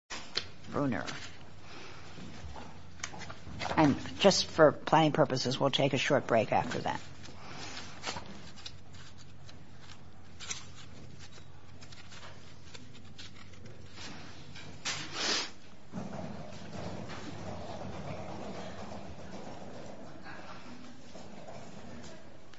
and just for planning purposes we'll take a short break after that